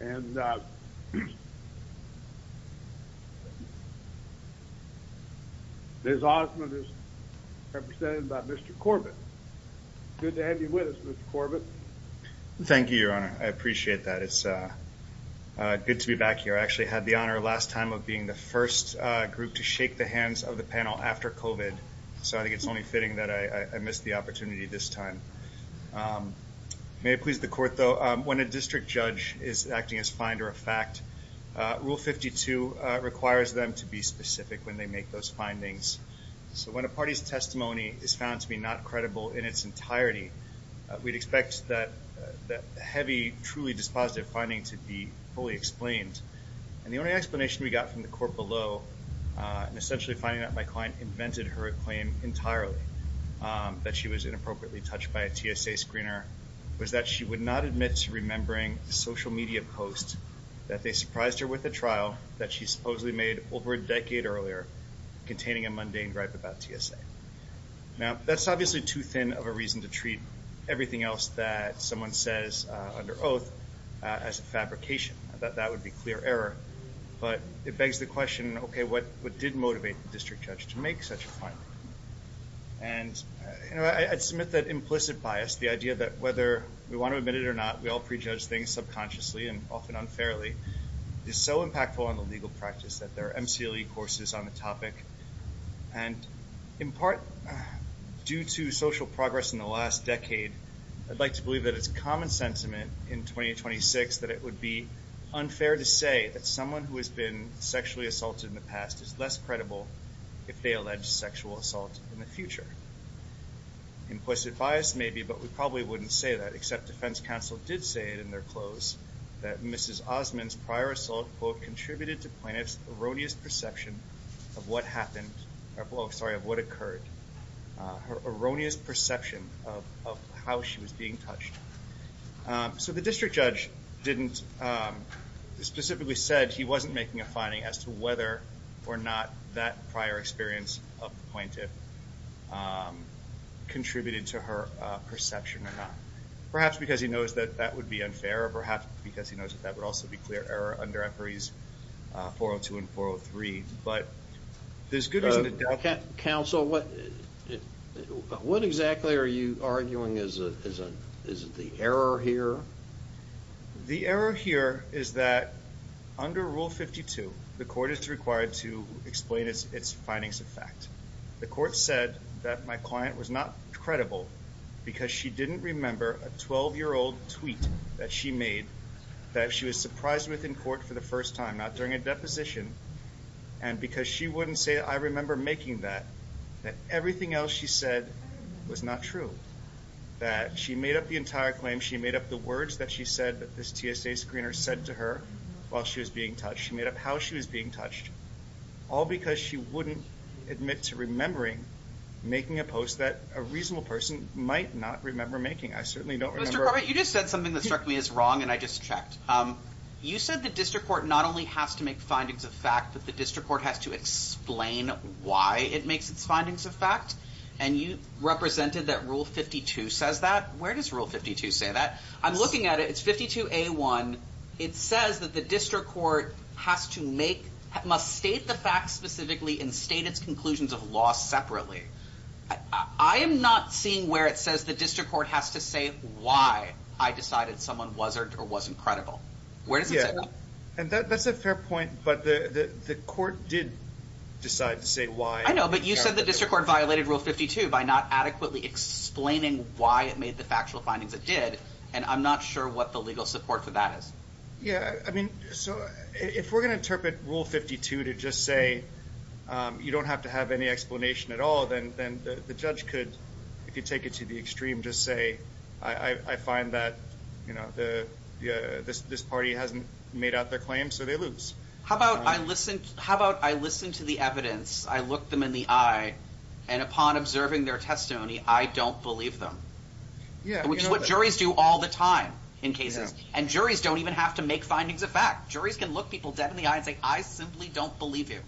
And, uh, there's Osmond is represented by Mr Corbett. Good to have you with us, Mr Corbett. Thank you, Your Honor. I appreciate that. It's good to be back here. I actually had the honor last time of being the first group to shake the hands of the panel after Covid. So I think it's only fitting that I missed the opportunity this time. Um, may it please the court, though, when a district judge is acting as finder of fact, Rule 52 requires them to be specific when they make those findings. So when a party's testimony is found to be not credible in its entirety, we'd expect that that heavy, truly dispositive finding to be fully explained. And the only explanation we got from the court below, uh, essentially finding that my client invented her claim entirely that she was inappropriately touched by a TSA screener was that she would not admit to remembering social media posts that they surprised her with the trial that she supposedly made over a decade earlier, containing a mundane gripe about TSA. Now, that's obviously too thin of a reason to treat everything else that someone says under oath as a fabrication that that would be clear error. But it begs the question, Okay, what? What did motivate the district judge to make such a fine? And I'd submit that implicit bias, the idea that whether we want to admit it or not, we all prejudge things subconsciously and often unfairly is so impactful on the legal practice that there are emcee Lee courses on the topic. And in part due to social progress in the last decade, I'd like to believe that it's common sentiment in 2026 that it would be unfair to say that someone who has been sexually assaulted in the past is less credible if they allege sexual assault in the future. Implicit bias, maybe, but we probably wouldn't say that, except defense counsel did say it in their close that Mrs Osmond's prior assault quote contributed to plaintiff's erroneous perception of what happened. I'm sorry of what occurred her erroneous perception of how she was being touched. So the district judge didn't specifically said he wasn't making a finding as to whether or not that prior experience of the plaintiff contributed to her perception or not, perhaps because he knows that that would be unfair, or perhaps because he knows that that would also be clear error under empori's 402 and 403. But there's good reason to doubt counsel. So what exactly are you arguing? Is it the error here? The error here is that under Rule 52, the court is required to explain its findings of fact. The court said that my client was not credible because she didn't remember a 12 year old tweet that she made, that she was surprised with in court for the first time, not during a deposition, and because she wouldn't say, I remember making that, that everything else she said was not true, that she made up the entire claim, she made up the words that she said that this TSA screener said to her while she was being touched. She made up how she was being touched, all because she wouldn't admit to remembering making a post that a reasonable person might not remember making. I certainly don't remember... Mr. Corbett, you just said something that struck me as wrong, and I just checked. You said the district court not only has to make findings of fact, but the district court has to explain why it makes its findings of fact, and you represented that Rule 52 says that. Where does Rule 52 say that? I'm looking at it, it's 52A1. It says that the district court has to make... Must state the facts specifically and state its conclusions of law separately. I am not seeing where it says the district court has to say why I decided someone wasn't credible. Where does it say that? Yeah, and that's a fair point, but the court did decide to say why. I know, but you said the district court violated Rule 52 by not adequately explaining why it made the factual findings it did, and I'm not sure what the legal support for that is. Yeah, so if we're gonna interpret Rule 52 to just say you don't have to have any explanation at all, then the judge could, if you take it to the extreme, just say, I find that this party hasn't made out their claim, so they lose. How about I listen to the evidence, I look them in the eye, and upon observing their testimony, I don't believe them? Yeah. Which is what juries do all the time in cases, and juries don't even have to make findings of fact. Juries can look people dead in the eye and say, I simply don't believe you.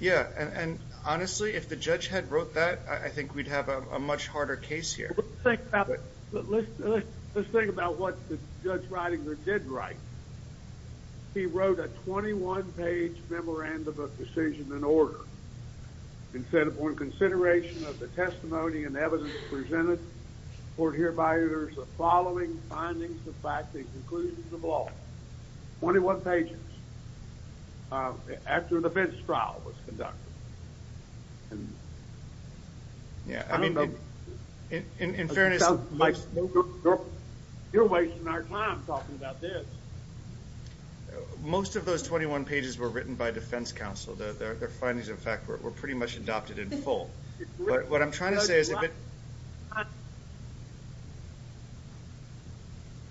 Yeah, and honestly, if the judge had wrote that, I think we'd have a much harder case here. Let's think about it. What the judge did write, he wrote a 21 page memorandum of decision and order, and said, upon consideration of the testimony and evidence presented, court hereby utters the following findings of fact, the conclusions of law, 21 pages, after an offense trial was conducted. Yeah, I mean, in fairness... You're wasting our time talking about this. Most of those 21 pages were written by defense counsel. Their findings of fact were pretty much adopted in full. But what I'm trying to say is that...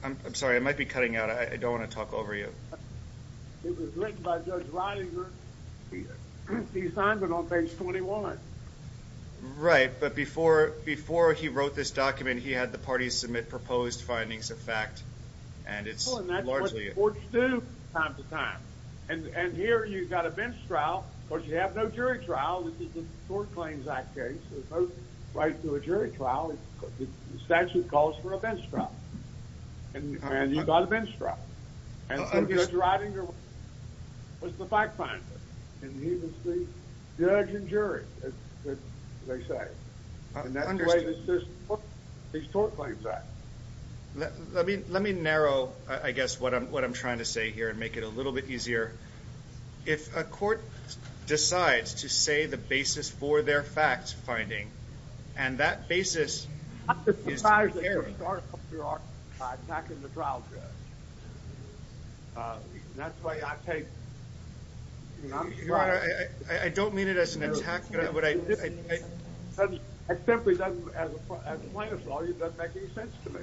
I'm sorry, I might be cutting out. I don't wanna talk over you. It was written by Judge Reininger. He signed it on 21. Right, but before he wrote this document, he had the party submit proposed findings of fact, and it's largely... Well, and that's what the courts do time to time. And here, you've got a bench trial. Of course, you have no jury trial. This is the Court Claims Act case. There's no right to a jury trial. The statute calls for a bench trial. And you've got a bench trial. And so Judge Reininger was the fact finder, and he was the judge and jury, as they say. And that's the way the system works, these Court Claims Acts. Let me narrow, I guess, what I'm trying to say here, and make it a little bit easier. If a court decides to say the basis for their fact finding, and that basis is... I'm just surprised that you start off your argument by attacking the trial judge. That's why I think... Your Honor, I don't mean it as an attack, but I... It simply doesn't, as a plaintiff's lawyer, it doesn't make any sense to me.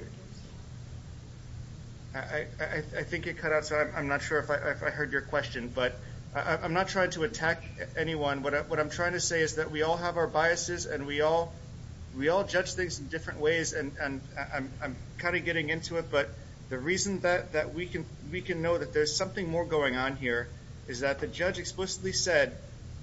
I think you cut out, so I'm not sure if I heard your question, but I'm not trying to attack anyone. What I'm trying to say is that we all have our biases, and we all judge things in different ways, and I'm kinda getting into it, but the reason that we can know that there's something more going on here, is that the judge explicitly said,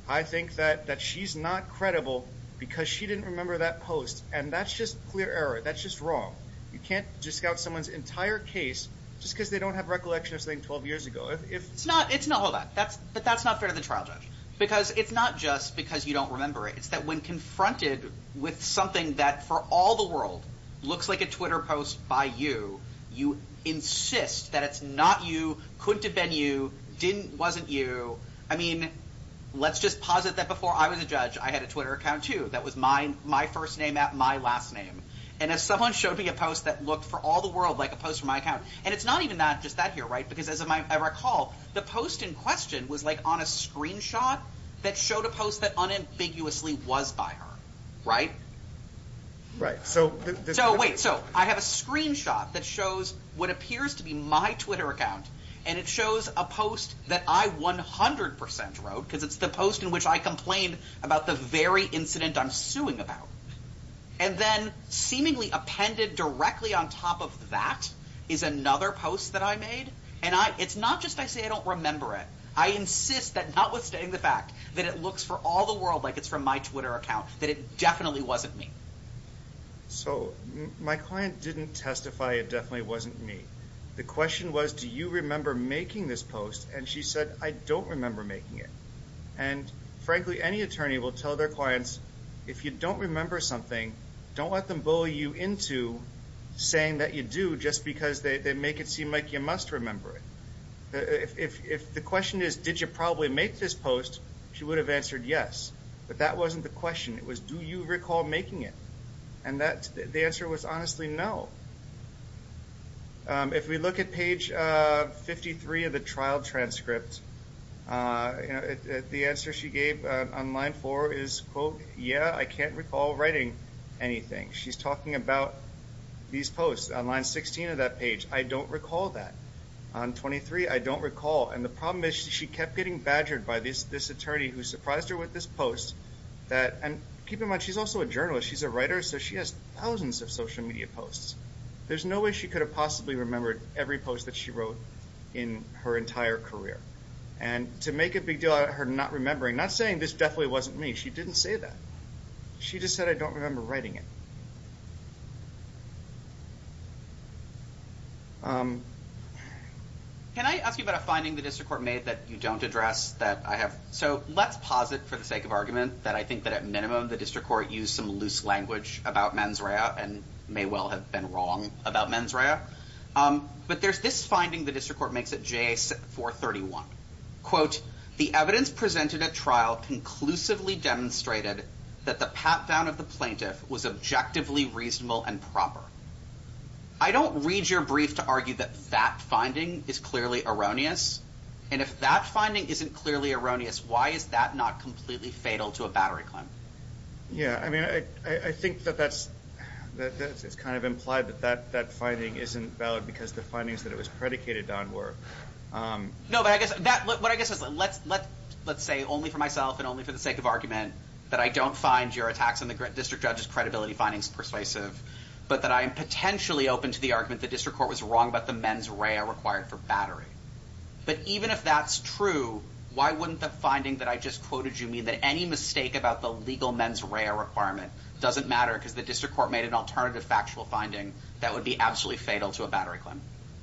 I think that she's not credible because she didn't remember that post. And that's just clear error. That's just wrong. You can't just scout someone's entire case just because they don't have recollection of something 12 years ago. If... It's not... Hold on. But that's not fair to the trial judge, because it's not just because you don't remember it. It's that when confronted with something that, for all the world, looks like a Twitter post by you, you insist that it's not you, couldn't have been you, wasn't you. I mean, let's just posit that before I was a judge, I had a Twitter account too, that was my first name at, my last name. And as someone showed me a post that looked, for all the world, like a post from my account... And it's not even just that here, right? Because as I recall, the post in question was on a screenshot that showed a post that unambiguously was by her. Right? Right. So... So wait. So I have a screenshot that shows what appears to be my Twitter account, and it shows a post that I 100% wrote, because it's the post in which I complained about the very incident I'm suing about. And then, seemingly appended directly on top of that, is another post that I made. And it's not just I say I don't remember it. I insist that notwithstanding the fact that it looks for all the world like it's from my Twitter account, that it definitely wasn't me. So my client didn't testify it definitely wasn't me. The question was, do you remember making this post? And she said, I don't remember making it. And frankly, any attorney will tell their clients, if you don't remember something, don't let them bully you into saying that you do just because they make it seem like you must remember it. If the question is, did you probably make this post? She would have answered yes. But that wasn't the question. It was, do you recall making it? And that, the answer was honestly no. If we look at page 53 of the trial transcript, the answer she gave on line four is, quote, yeah, I can't recall writing anything. She's talking about these posts on line 16 of that page. I don't recall that. On 23, I don't recall. And the problem is, she kept getting badgered by this attorney who surprised her with this post that, and keep in mind, she's also a journalist. She's a writer, so she has thousands of social media posts. There's no way she could have possibly remembered every post that she wrote in her entire career. And to make a big deal out of her not remembering, not saying this definitely wasn't me, she didn't say that. She just said, I don't remember writing it. Can I ask you about a finding the district court made that you don't address that I have? So let's posit for the sake of argument that I think that at minimum, the district court used some loose language about mens rea and may well have been wrong about mens rea. But there's this finding the district court makes at J431. Quote, the evidence presented at trial conclusively demonstrated that the pat down of the plaintiff was objectively reasonable and proper. I don't read your brief to argue that that finding is clearly erroneous. And if that finding isn't clearly erroneous, why is that not completely fatal to a battery claim? Yeah, I mean, I think that it's kind of implied that that finding isn't valid because the findings that it was predicated on were. No, but I guess what I guess is, let's say only for myself and only for the sake of argument that I don't find your attacks on the district judge's credibility findings persuasive, but that I am potentially open to the argument the district court was wrong about the mens rea required for battery. But even if that's true, why wouldn't the finding that I just quoted you mean that any mistake about the legal mens rea requirement doesn't matter because the district court made an alternative factual finding that would be absolutely fatal to a battery claim?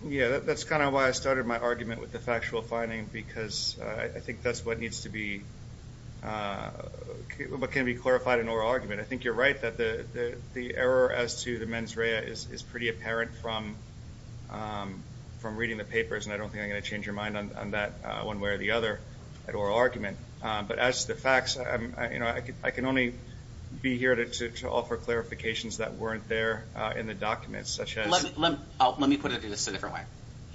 Yeah, that's kind of why I started my argument with the factual finding, because I think that's what needs to be, uh, can be clarified in oral argument. I think you're right that the error as to the mens rea is pretty apparent from, um, from reading the papers, and I don't think I'm gonna change your mind on that one way or the other at oral argument. But as the facts, you know, I can only be here to offer clarifications that weren't there in the documents, such as let me put it in a different way.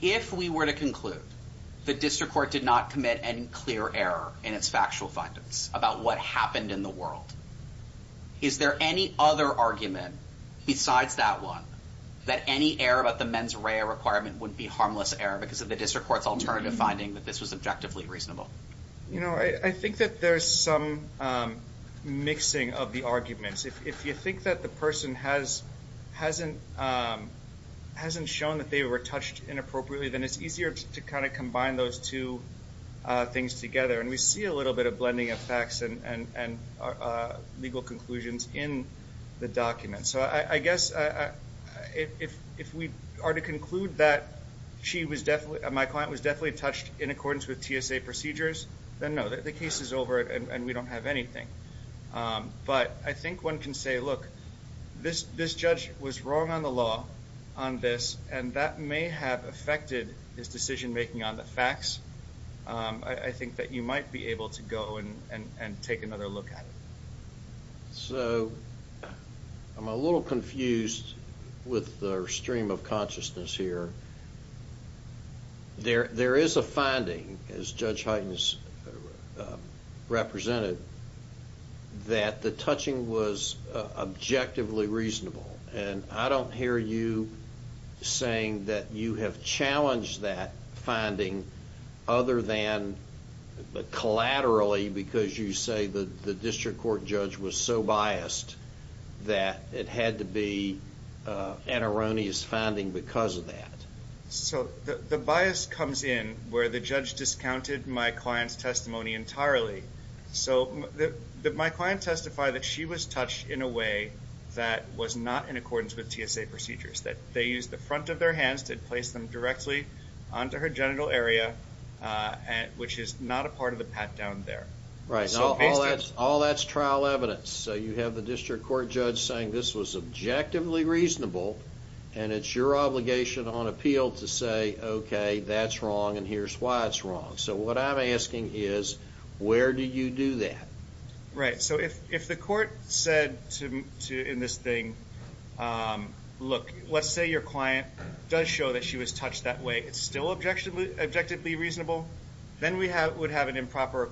If we were to The district court did not commit any clear error in its factual findings about what happened in the world. Is there any other argument besides that one that any error about the mens rea requirement would be harmless error because of the district court's alternative finding that this was objectively reasonable? You know, I think that there's some, um, mixing of the arguments. If you think that the person has hasn't, um, hasn't shown that they were touched inappropriately, then it's easier to kind of combine those two things together. And we see a little bit of blending of facts and and, uh, legal conclusions in the documents. So I guess, uh, if if we are to conclude that she was definitely my client was definitely touched in accordance with TSA procedures, then know that the case is over and we don't have anything. Um, but I think one can say, Look, this this judge was wrong on the law on this, and that may have affected his decision making on the facts. Um, I think that you might be able to go and and take another look at it. So I'm a little confused with the stream of consciousness here. There there is a finding, as Judge Highton's, uh, represented that the touching was objectively reasonable. And I don't hear you saying that you have challenged that finding other than collaterally, because you say that the district court judge was so biased that it had to be an erroneous finding because of that. So the bias comes in where the judge discounted my client's testimony entirely. So my client testified that she was touched in a way that was not in accordance with TSA procedures, that they used the front of their hands to place them directly onto her genital area, which is not a part of the pat down there, right? All that's trial evidence. So you have the district court judge saying this was objectively reasonable, and it's your obligation on appeal to say, Okay, that's wrong, and here's why it's wrong. So what I'm asking is, where do you do that? Right. So if the court said in this thing, um, look, let's say your client does show that she was touched that way, it's still objectively reasonable, then we would have an improper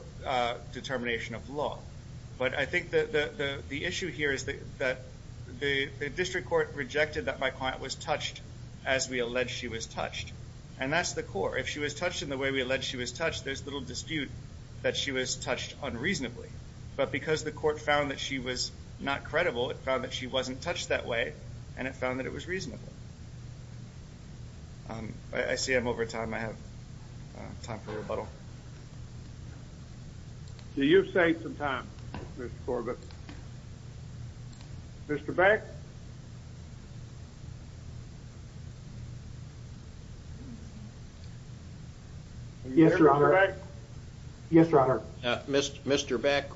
determination of law. But I think the issue here is that the district court rejected that my client was touched as we alleged she was And that's the core. If she was touched in the way we alleged she was touched, there's little dispute that she was touched unreasonably. But because the court found that she was not credible, it found that she wasn't touched that way, and it found that it was reasonable. Um, I see I'm over time. I have time for rebuttal. Do you say some time, Mr Corbett? Mr Back. Yes, Your Honor. Yes, Your Honor. Mr Mr Beck,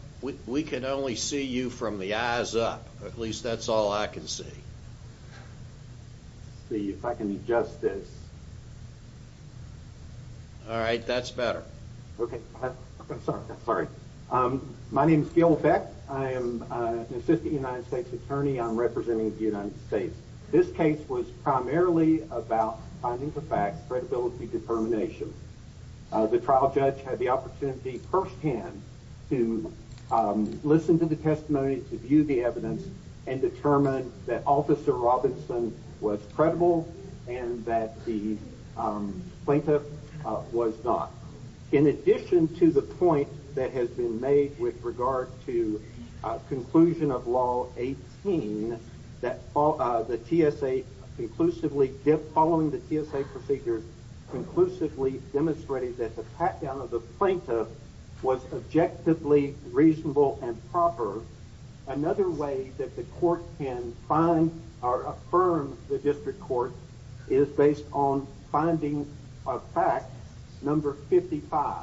we can only see you from the eyes up. At least that's all I can see. See if I can adjust this. All right. That's better. Okay. I'm sorry. I'm sorry. Um, my name is Gil Beck. I am an assistant United States attorney. I'm representing the United States. This case was primarily about finding the fact credibility determination. The trial judge had the opportunity firsthand to listen to the testimony to view the evidence and determined that Officer Robinson was credible and that the plaintiff was not. In addition to the point that has been made with regard to conclusion of Law 18, that the TSA conclusively following the TSA procedures conclusively demonstrated that the pat down of the plaintiff was objectively reasonable and proper. Another way that the court can find are affirmed. The district court is based on finding a fact number 55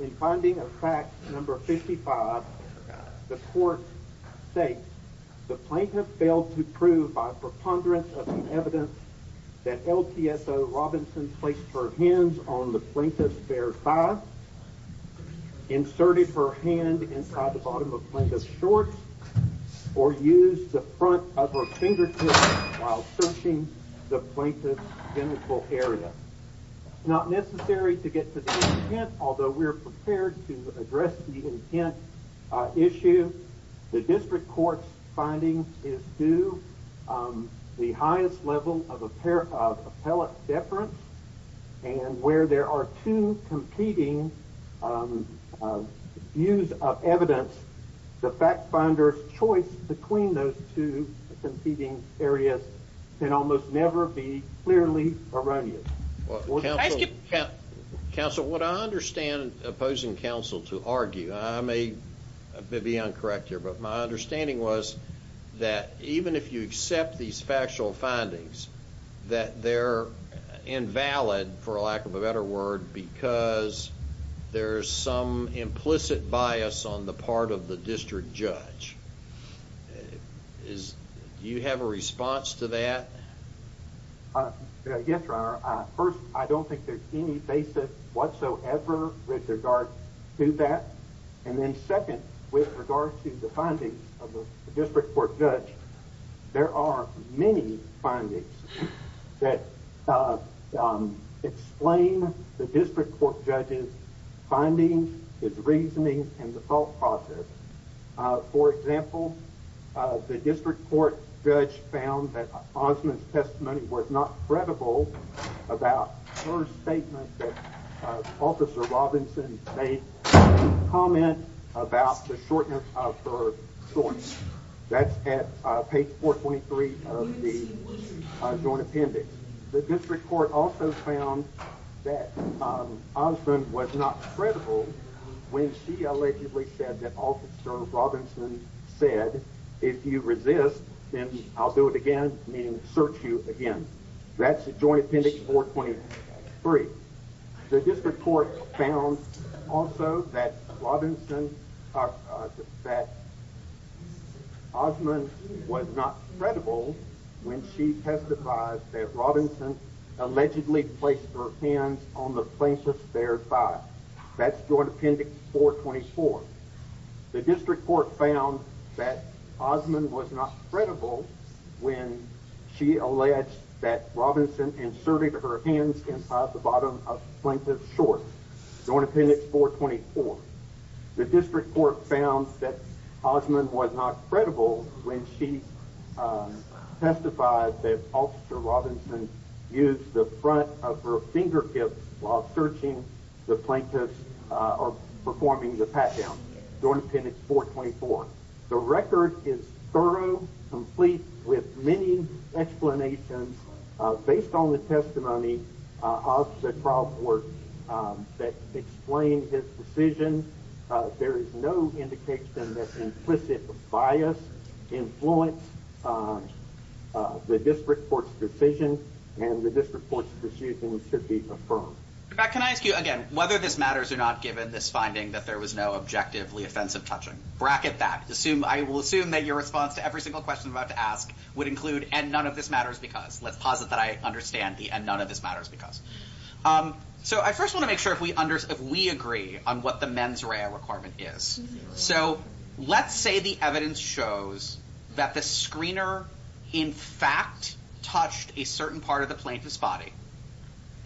in finding a fact number 55. The court say the plaintiff failed to prove by preponderance of evidence that LTS Robinson placed her hands on the plaintiff's bare five inserted her hand inside the bottom of plaintiff's shorts or used the front of her fingertips while searching the plaintiff's genital area. Not necessary to get to the intent. Although we're prepared to address the intent issue, the district court's findings is do, um, the highest level of a pair of pellet deference and where there are two competing, um, use of evidence. The fact finder's choice between those two competing areas can almost never be clearly erroneous. Council. What I understand opposing counsel to argue I may be incorrect here, but my understanding was that even if you these factual findings that they're invalid, for lack of a better word, because there's some implicit bias on the part of the district judge, is you have a response to that? Yes, sir. First, I don't think there's any basis whatsoever with regard to that. And then second, with regards to the findings of the district court judge, there are many findings that, uh, explain the district court judges finding his reasoning and the thought process. For example, the district court judge found that Osmond's testimony was not credible about her statement. Officer Robinson made comment about the shortness of her source. That's at page 4 23 of the joint appendix. The district court also found that Osmond was not credible when she allegedly said that officer Robinson said, If you resist, then I'll do it again, meaning search you again. That's a joint appendix for 23. The district court found also that Robinson, uh, that Osmond was not credible when she testified that Robinson allegedly placed her hands on the plaintiff's bare thigh. That's joint appendix 4 24. The district court found that Osmond was not credible when she alleged that Robinson inserted her hands in the bottom of plaintiff short joint appendix 4 24. The district court found that Osmond was not credible when she, uh, testified that officer Robinson used the front of her finger tips while searching the plaintiff's performing the pat down joint appendix 4 24. The record is thorough, complete with many explanations based on the testimony of the trial court that explained his decision. There is no indication that implicit bias influence, uh, the district court's decision and the court's decision should be affirmed. Can I ask you again whether this matters or not? Given this finding that there was no objectively offensive touching bracket that assume I will assume that your response to every single question about to ask would include and none of this matters because let's posit that I understand the and none of this matters because, um, so I first want to make sure if we under if we agree on what the men's rare requirement is. So let's say the evidence shows that the screener in fact touched a certain part of the plaintiff's body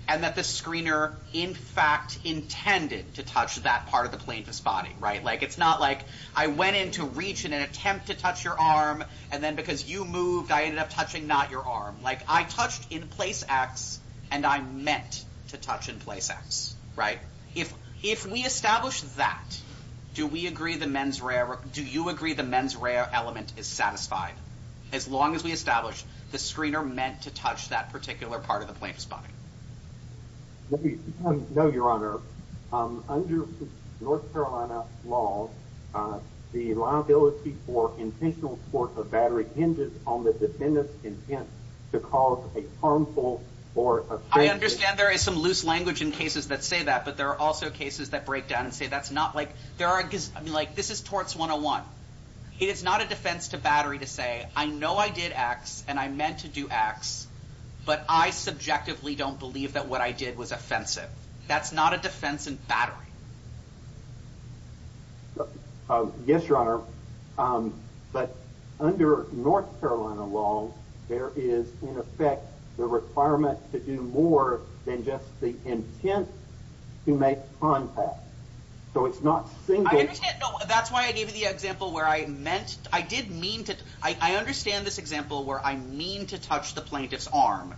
and that the screener in fact intended to touch that part of the plaintiff's body, right? Like it's not like I went into reach in an attempt to touch your arm and then because you moved, I ended up touching not your arm like I touched in place acts and I'm meant to touch in place acts, right? If if we establish that, do we agree the men's rare? Do you agree the men's rare element is satisfied? As long as we establish the screener meant to touch that particular part of the plaintiff's body? No, Your Honor. Um, under North Carolina law, uh, the liability for intentional sport of battery hinges on the defendant's intent to cause a harmful or I understand there is some loose language in cases that say that, but there are also cases that break down and say that's not like there are like this is towards 101. It is not a defense to battery to say, I know I did X and I meant to do X, but I subjectively don't believe that what I did was offensive. That's not a defense and battery. Yes, Your Honor. Um, but under North Carolina law, there is in effect the requirement to do more than just the intent to make contact. So it's not saying that's why I gave you the example where I meant I did mean to. I mean to touch the plaintiff's arm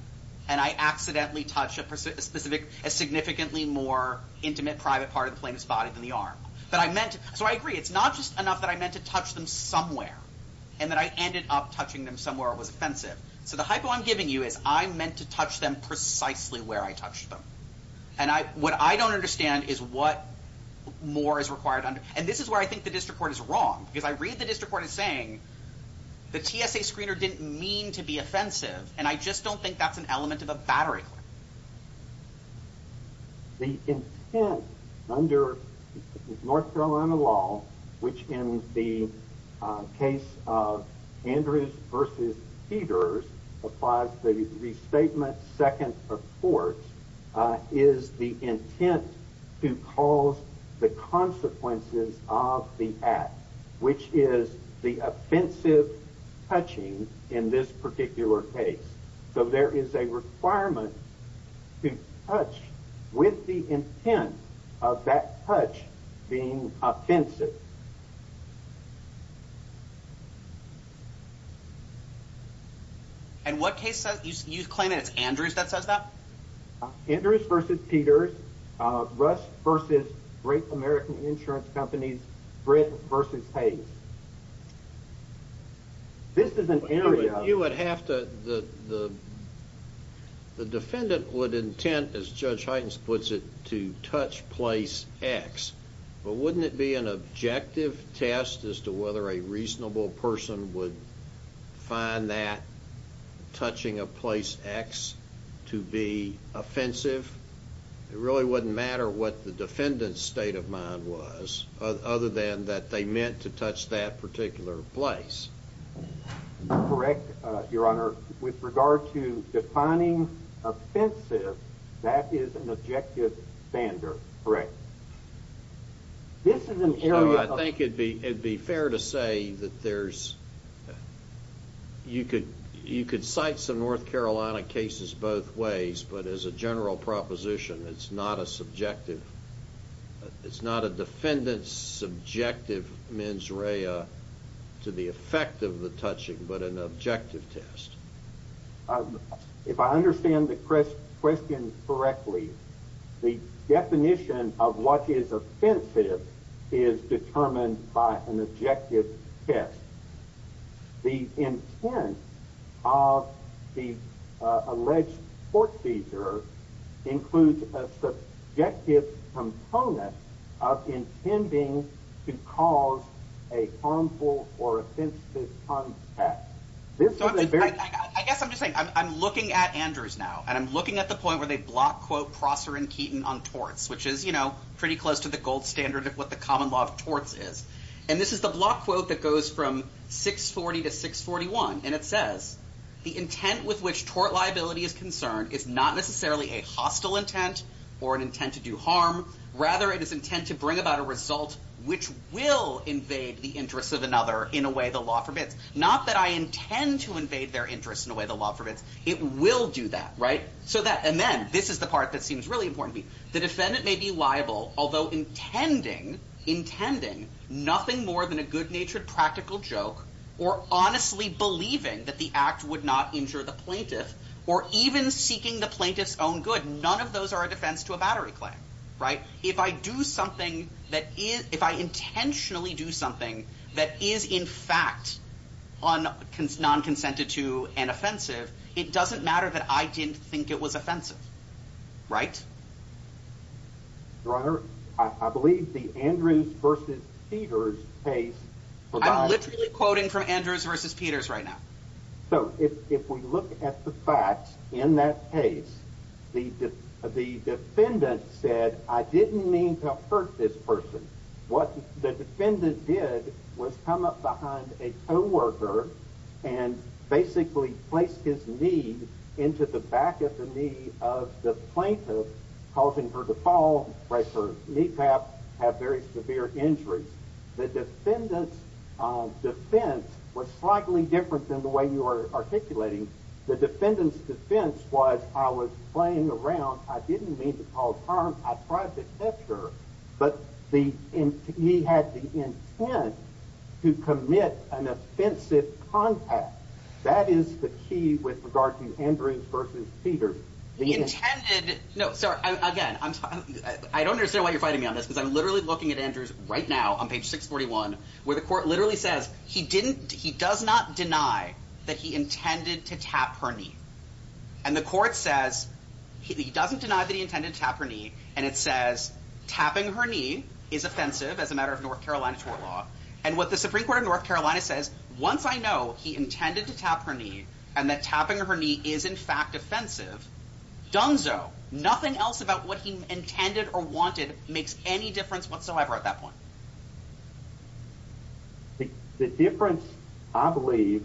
and I accidentally touch a specific a significantly more intimate private part of the plaintiff's body than the arm that I meant. So I agree. It's not just enough that I meant to touch them somewhere and that I ended up touching them somewhere. It was offensive. So the hypo I'm giving you is I meant to touch them precisely where I touched them. And what I don't understand is what more is required. And this is where I think the district court is wrong because I read the district court saying the T. S. A. Screener didn't mean to be offensive, and I just don't think that's an element of a battery. The intent under North Carolina law, which in the case of Andrews versus Peters applies the restatement. Second, of course, is the intent to cause the consequences off the act, which is the offensive touching in this particular case. So there is a requirement to touch with the intent of that touch being offensive. And what case says you claim it's Andrews that says that Andrews versus Peters rush versus great American insurance companies. Bread versus hate. This is an area you would have to the the defendant would intent, as Judge Heintz puts it, to touch place X. But wouldn't it be an objective test as to whether a reasonable person would find that touching a place X to be offensive? It really wouldn't matter what the defendant's state of mind was other than that they meant to touch that particular place. Correct, Your Honor. With regard to defining offensive, that is an objective standard. Correct. This is an area I think it'd be it'd be fair to say that there's you could you could cite some North Carolina cases both ways. But as a general proposition, it's not a subjective. It's not a defendant's subjective mens rea to the effect of the touching, but an objective test. If I understand the question correctly, the definition of what is offensive is determined by an objective test. The intent of the alleged court seizure includes a subjective component of intending to cause a harmful or offensive contact. I guess I'm just saying I'm looking at Andrews now and I'm looking at the point where they block quote Prosser and Keaton on torts, which is, you know, pretty close to the gold standard of what the common law of torts is. And this is the block quote that goes from 640 to 641. And it says, the intent with which tort liability is concerned is not necessarily a hostile intent or an intent to do harm. Rather, it is intent to bring about a result which will invade the interests of in a way the law forbids. Not that I intend to invade their interests in a way the law forbids. It will do that. And then this is the part that seems really important to me. The defendant may be liable, although intending nothing more than a good natured practical joke, or honestly believing that the act would not injure the plaintiff, or even seeking the plaintiff's own good. None of those are a defense to a battery claim. If I intentionally do something that is, in fact, on non consented to an offensive, it doesn't matter that I didn't think it was offensive, right? Your Honor, I believe the Andrews vs. Peters case. I'm literally quoting from Andrews vs. Peters right now. So if we look at the facts in that case, the defendant said, I didn't mean to hurt this person. What the defendant did was come up behind a co-worker and basically placed his knee into the back of the knee of the plaintiff, causing her to fall, break her kneecap, have very severe injuries. The defendant's defense was slightly different than the way you are articulating. The defendant's defense was, I was playing around. I didn't mean to cause harm. I tried to touch her, but he had the intent to commit an offensive contact. That is the key with regard to Andrews vs. Peters. He intended, no, sorry, again, I don't understand why you're fighting me on this, because I'm literally looking at Andrews right now on page 641, where the court literally says he does not deny that he intended to tap her knee. And the court says he doesn't deny that he intended to tap her knee. And it says tapping her knee is offensive as a matter of North Carolina tort law. And what the Supreme Court of North Carolina says, once I know he intended to tap her knee, and that tapping her knee is in fact offensive, dunzo, nothing else about what he intended or wanted makes any difference whatsoever at that point. The difference, I believe,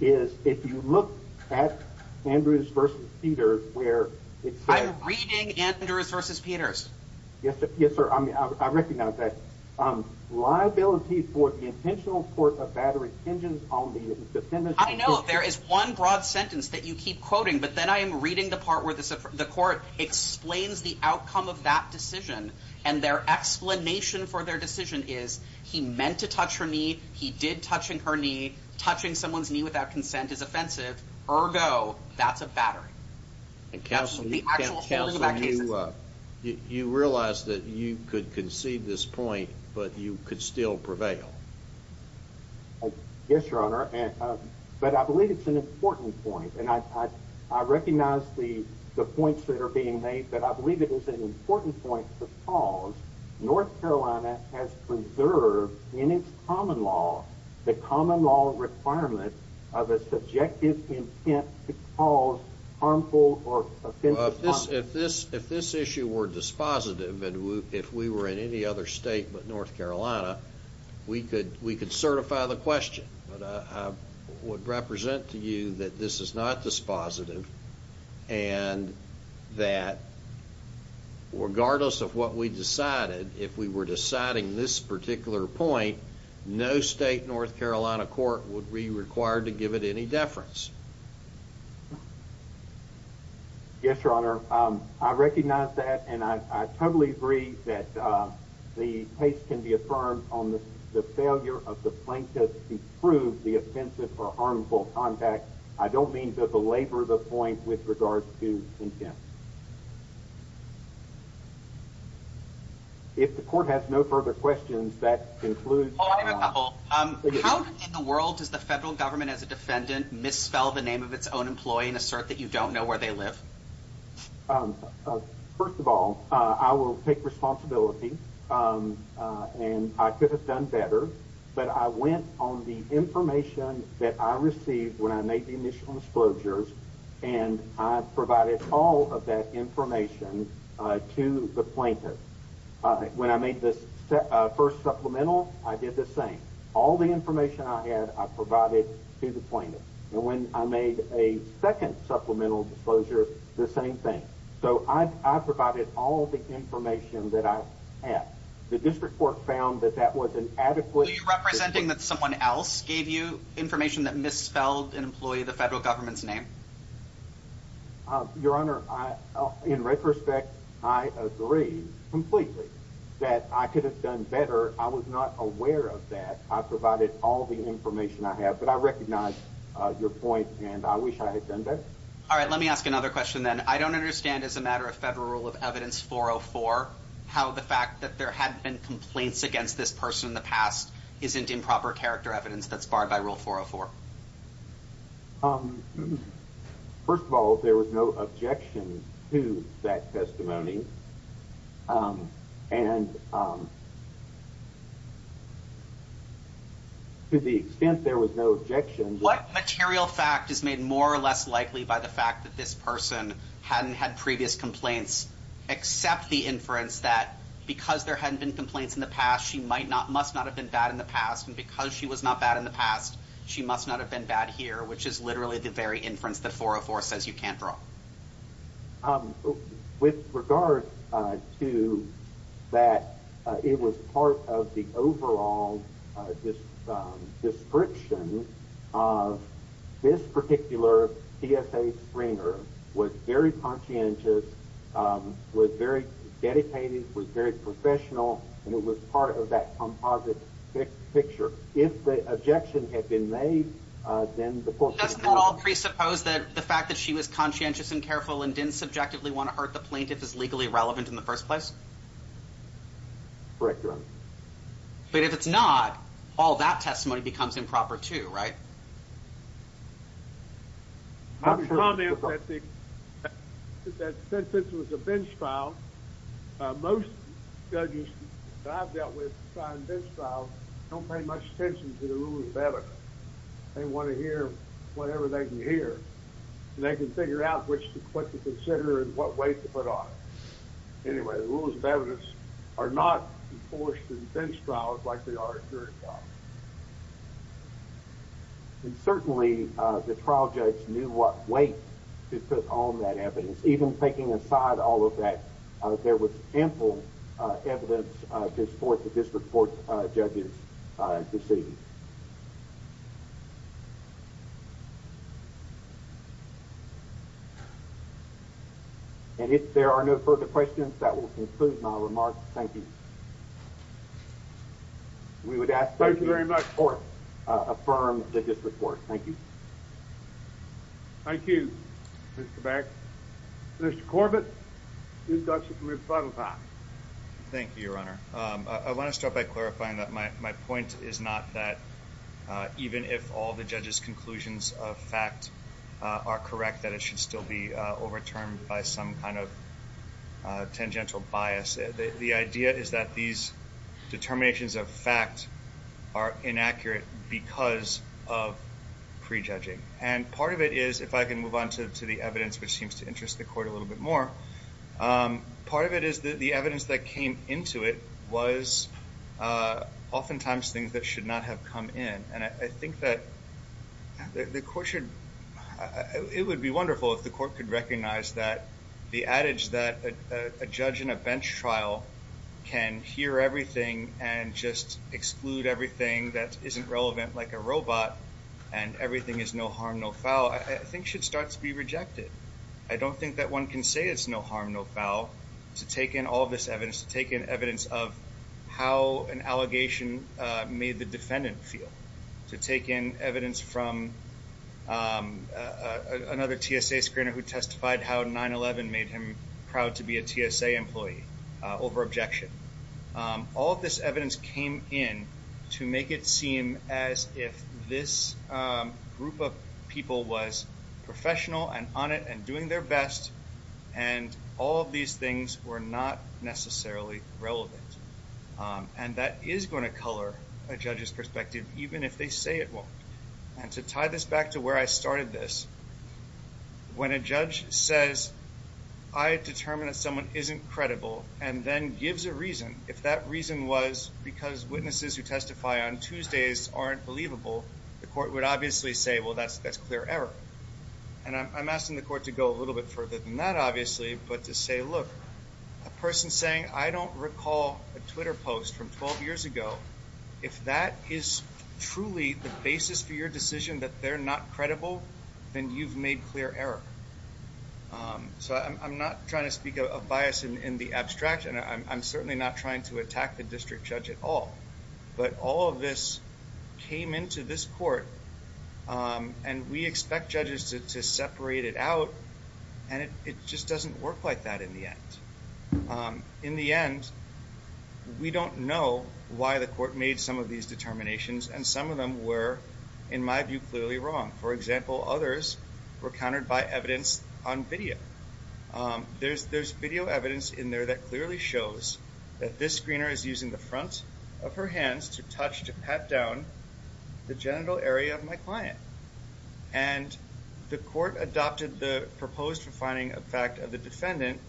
is if you look at Andrews vs. Peters, where it's I'm reading Andrews vs. Peters. Yes, sir. I mean, I recognize that liability for the intentional force of battery engines on the defendant. I know there is one broad sentence that you keep quoting, but then I am reading the part where the court explains the outcome of that decision, and their explanation for their decision is he meant to touch her knee. He did touching her knee. Touching someone's knee without consent is offensive. Ergo, that's a battery. And counsel, you realize that you could concede this point, but you could still prevail. Yes, your honor. But I believe it's an important point, and I recognize the points that are being made, but I believe it is an important point because North Carolina has preserved in its common law the common law requirement of a subjective intent to cause harmful or offensive conduct. If this issue were dispositive, and if we were in any other state but North Carolina, we could certify the question, but I would represent to you that this is not dispositive, and that regardless of what we decided, if we were deciding this particular point, no state North Carolina court would be required to give it any deference. Yes, your honor. I recognize that, and I totally agree that the case can be affirmed on the failure of the plaintiff to prove the offensive or harmful contact. I don't mean to belabor the point with regards to intent. If the court has no further questions, that includes a couple. How in the world does the federal government as a defendant misspell the name of its own employee and assert that you don't know where they live? First of all, I will take responsibility, and I could have done better, but I went on the information that I received when I made the initial disclosures, and I provided all of that information to the plaintiff. When I made this first supplemental, I did the same. All the information I had, I provided to the plaintiff. And when I made a second supplemental disclosure, the same thing. So I provided all the information that I had. The district court found that that wasn't adequately representing that someone else gave you information that misspelled an employee of the federal government's name. Your honor, in retrospect, I agree completely that I could have done better. I was not aware of that. I provided all the information I have, but I recognize your point, and I wish I had done that. All right, let me ask another question. Then I don't understand. As a matter of federal rule of evidence, 404 how the fact that there had been complaints against this person in the past isn't improper character evidence that's barred by rule 404. Um, first of all, there was no objection to that testimony. Um, and, to the extent there was no objection, what material fact is made more or less likely by the fact that this person hadn't had previous complaints except the inference that because there hadn't been complaints in the past, she might not must not have been bad in the past. And because she was not bad in the past, she must not have been bad here, which is literally the very inference that 404 says you can't draw with regard to that. It was part of the overall this description of this particular E. S. A. Springer was very conscientious, was very dedicated, was very professional, and it was part of that composite picture. If the objection had been made, then the court doesn't at all presuppose that the fact that she was conscientious and careful and didn't subjectively want to hurt the plaintiff is legally relevant in the first place. Correct. But if it's not all that testimony becomes improper to right. I'll comment that since this was a bench trial, most judges that I've dealt with in bench trials don't pay much attention to the rules of evidence. They want to hear whatever they can hear, and they can figure out what to consider and what weight to put on it. Anyway, the rules of evidence are not enforced in bench trials. And certainly the trial judge knew what weight to put on that evidence. Even taking aside all of that, there was ample evidence to support the district court judges proceedings. And if there are no further questions, that will conclude my remarks. Thank you. We would ask that the court affirm the district court. Thank you. Thank you, Mr. Beck. Mr. Corbett, you've got some time. Thank you, Your Honor. I want to start by clarifying that my point is not that even if all the judge's conclusions of fact are correct, that it should still be overturned by some kind of tangential bias. The idea is that these determinations of fact are inaccurate because of prejudging. And part of it is, if I can move on to the evidence which seems to interest the court a little bit more, part of it is that the evidence that came into it was oftentimes things that should not have come in. And I think that the court should, it would be wonderful if the court could recognize that the adage that a judge in a bench trial can hear everything and just exclude everything that isn't relevant, like a robot, and everything is no harm, no foul, I think should start to be rejected. I don't think that one can say it's no harm, no foul to take in all this evidence, to take in evidence of how an allegation made the defendant feel. To take in a TSA screener who testified how 9-11 made him proud to be a TSA employee over objection. All of this evidence came in to make it seem as if this group of people was professional and on it and doing their best, and all of these things were not necessarily relevant. And that is going to color a judge's perspective even if they say it won't. And to tie this back to where I started this, when a judge says, I determined that someone isn't credible, and then gives a reason, if that reason was because witnesses who testify on Tuesdays aren't believable, the court would obviously say, well that's clear error. And I'm asking the court to go a little bit further than that, obviously, but to say, look, a person saying, I don't recall a Twitter post from 12 years ago, if that is truly the basis for your decision that they're not credible, then you've made clear error. So I'm not trying to speak of bias in the abstraction. I'm certainly not trying to attack the district judge at all. But all of this came into this court, and we expect judges to separate it out, and it just doesn't work like that in the end. In the end, we don't know why the court made some of these determinations, and some of them were, in my view, clearly wrong. For example, others were countered by evidence on video. There's, there's video evidence in there that clearly shows that this screener is using the front of her hands to touch, to pat down the genital area of my client. And the court adopted the proposed refining effect of the defendant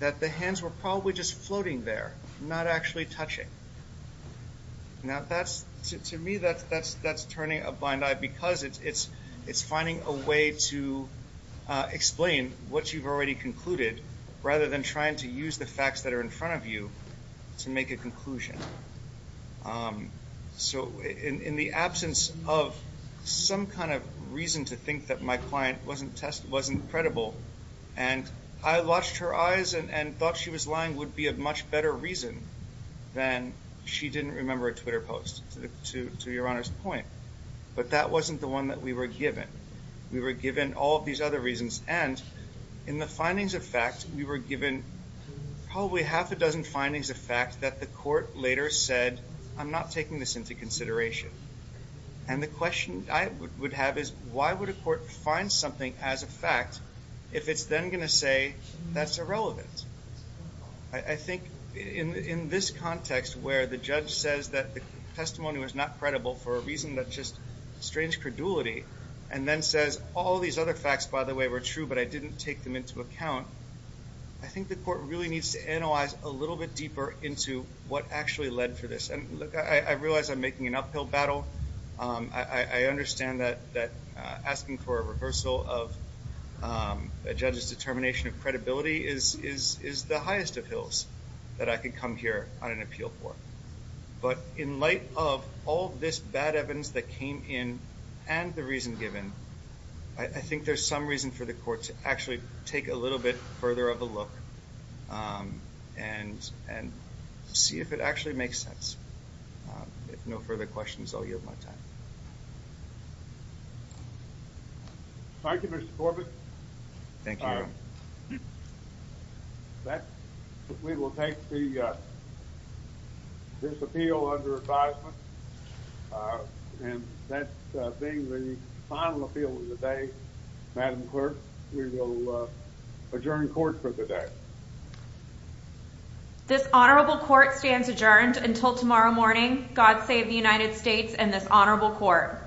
that the hands were probably just floating there, not actually touching. Now that's, to me, that's, that's, that's turning a blind eye because it's, it's, it's finding a way to explain what you've already concluded, rather than trying to use the facts that are in front of you to make a conclusion. So in, in the absence of some kind of reason to think that my client wasn't test, wasn't credible, and I watched her eyes and, and thought she was lying would be a much better reason than she didn't remember a Twitter post, to, to, to your Honor's point. But that wasn't the one that we were given. We were given all these other reasons, and in the findings of fact, we were given probably half a dozen findings of fact that the court later said, I'm not taking this into consideration. And the question I would, would have is, why would a court find something as a fact, if it's then gonna say that's irrelevant? I, I think in, in this context where the judge says that the testimony was not credible for a reason that's just strange credulity, and then says, all these other facts, by the way, were true, but I didn't take them into account. I think the court really needs to analyze a little bit deeper into what actually led to this. And look, I, I realize I'm making an uphill battle. I, I, I understand that, that asking for a reversal of a judge's determination of credibility is, is, is the highest of hills that I could come here on an appeal for. But in light of all this bad evidence that came in and the reason given, I, I think there's some reason for the court to actually take a little bit further of a look and, and see if it actually makes sense. If no further questions, I'll yield my time. Thank you, Mr. Corbett. Thank you. That, we will take the, this appeal under advisement. And that being the final appeal of the day, Madam Clerk, we will adjourn court for the day. This honorable court stands adjourned until tomorrow morning. God save the United States and this honorable court.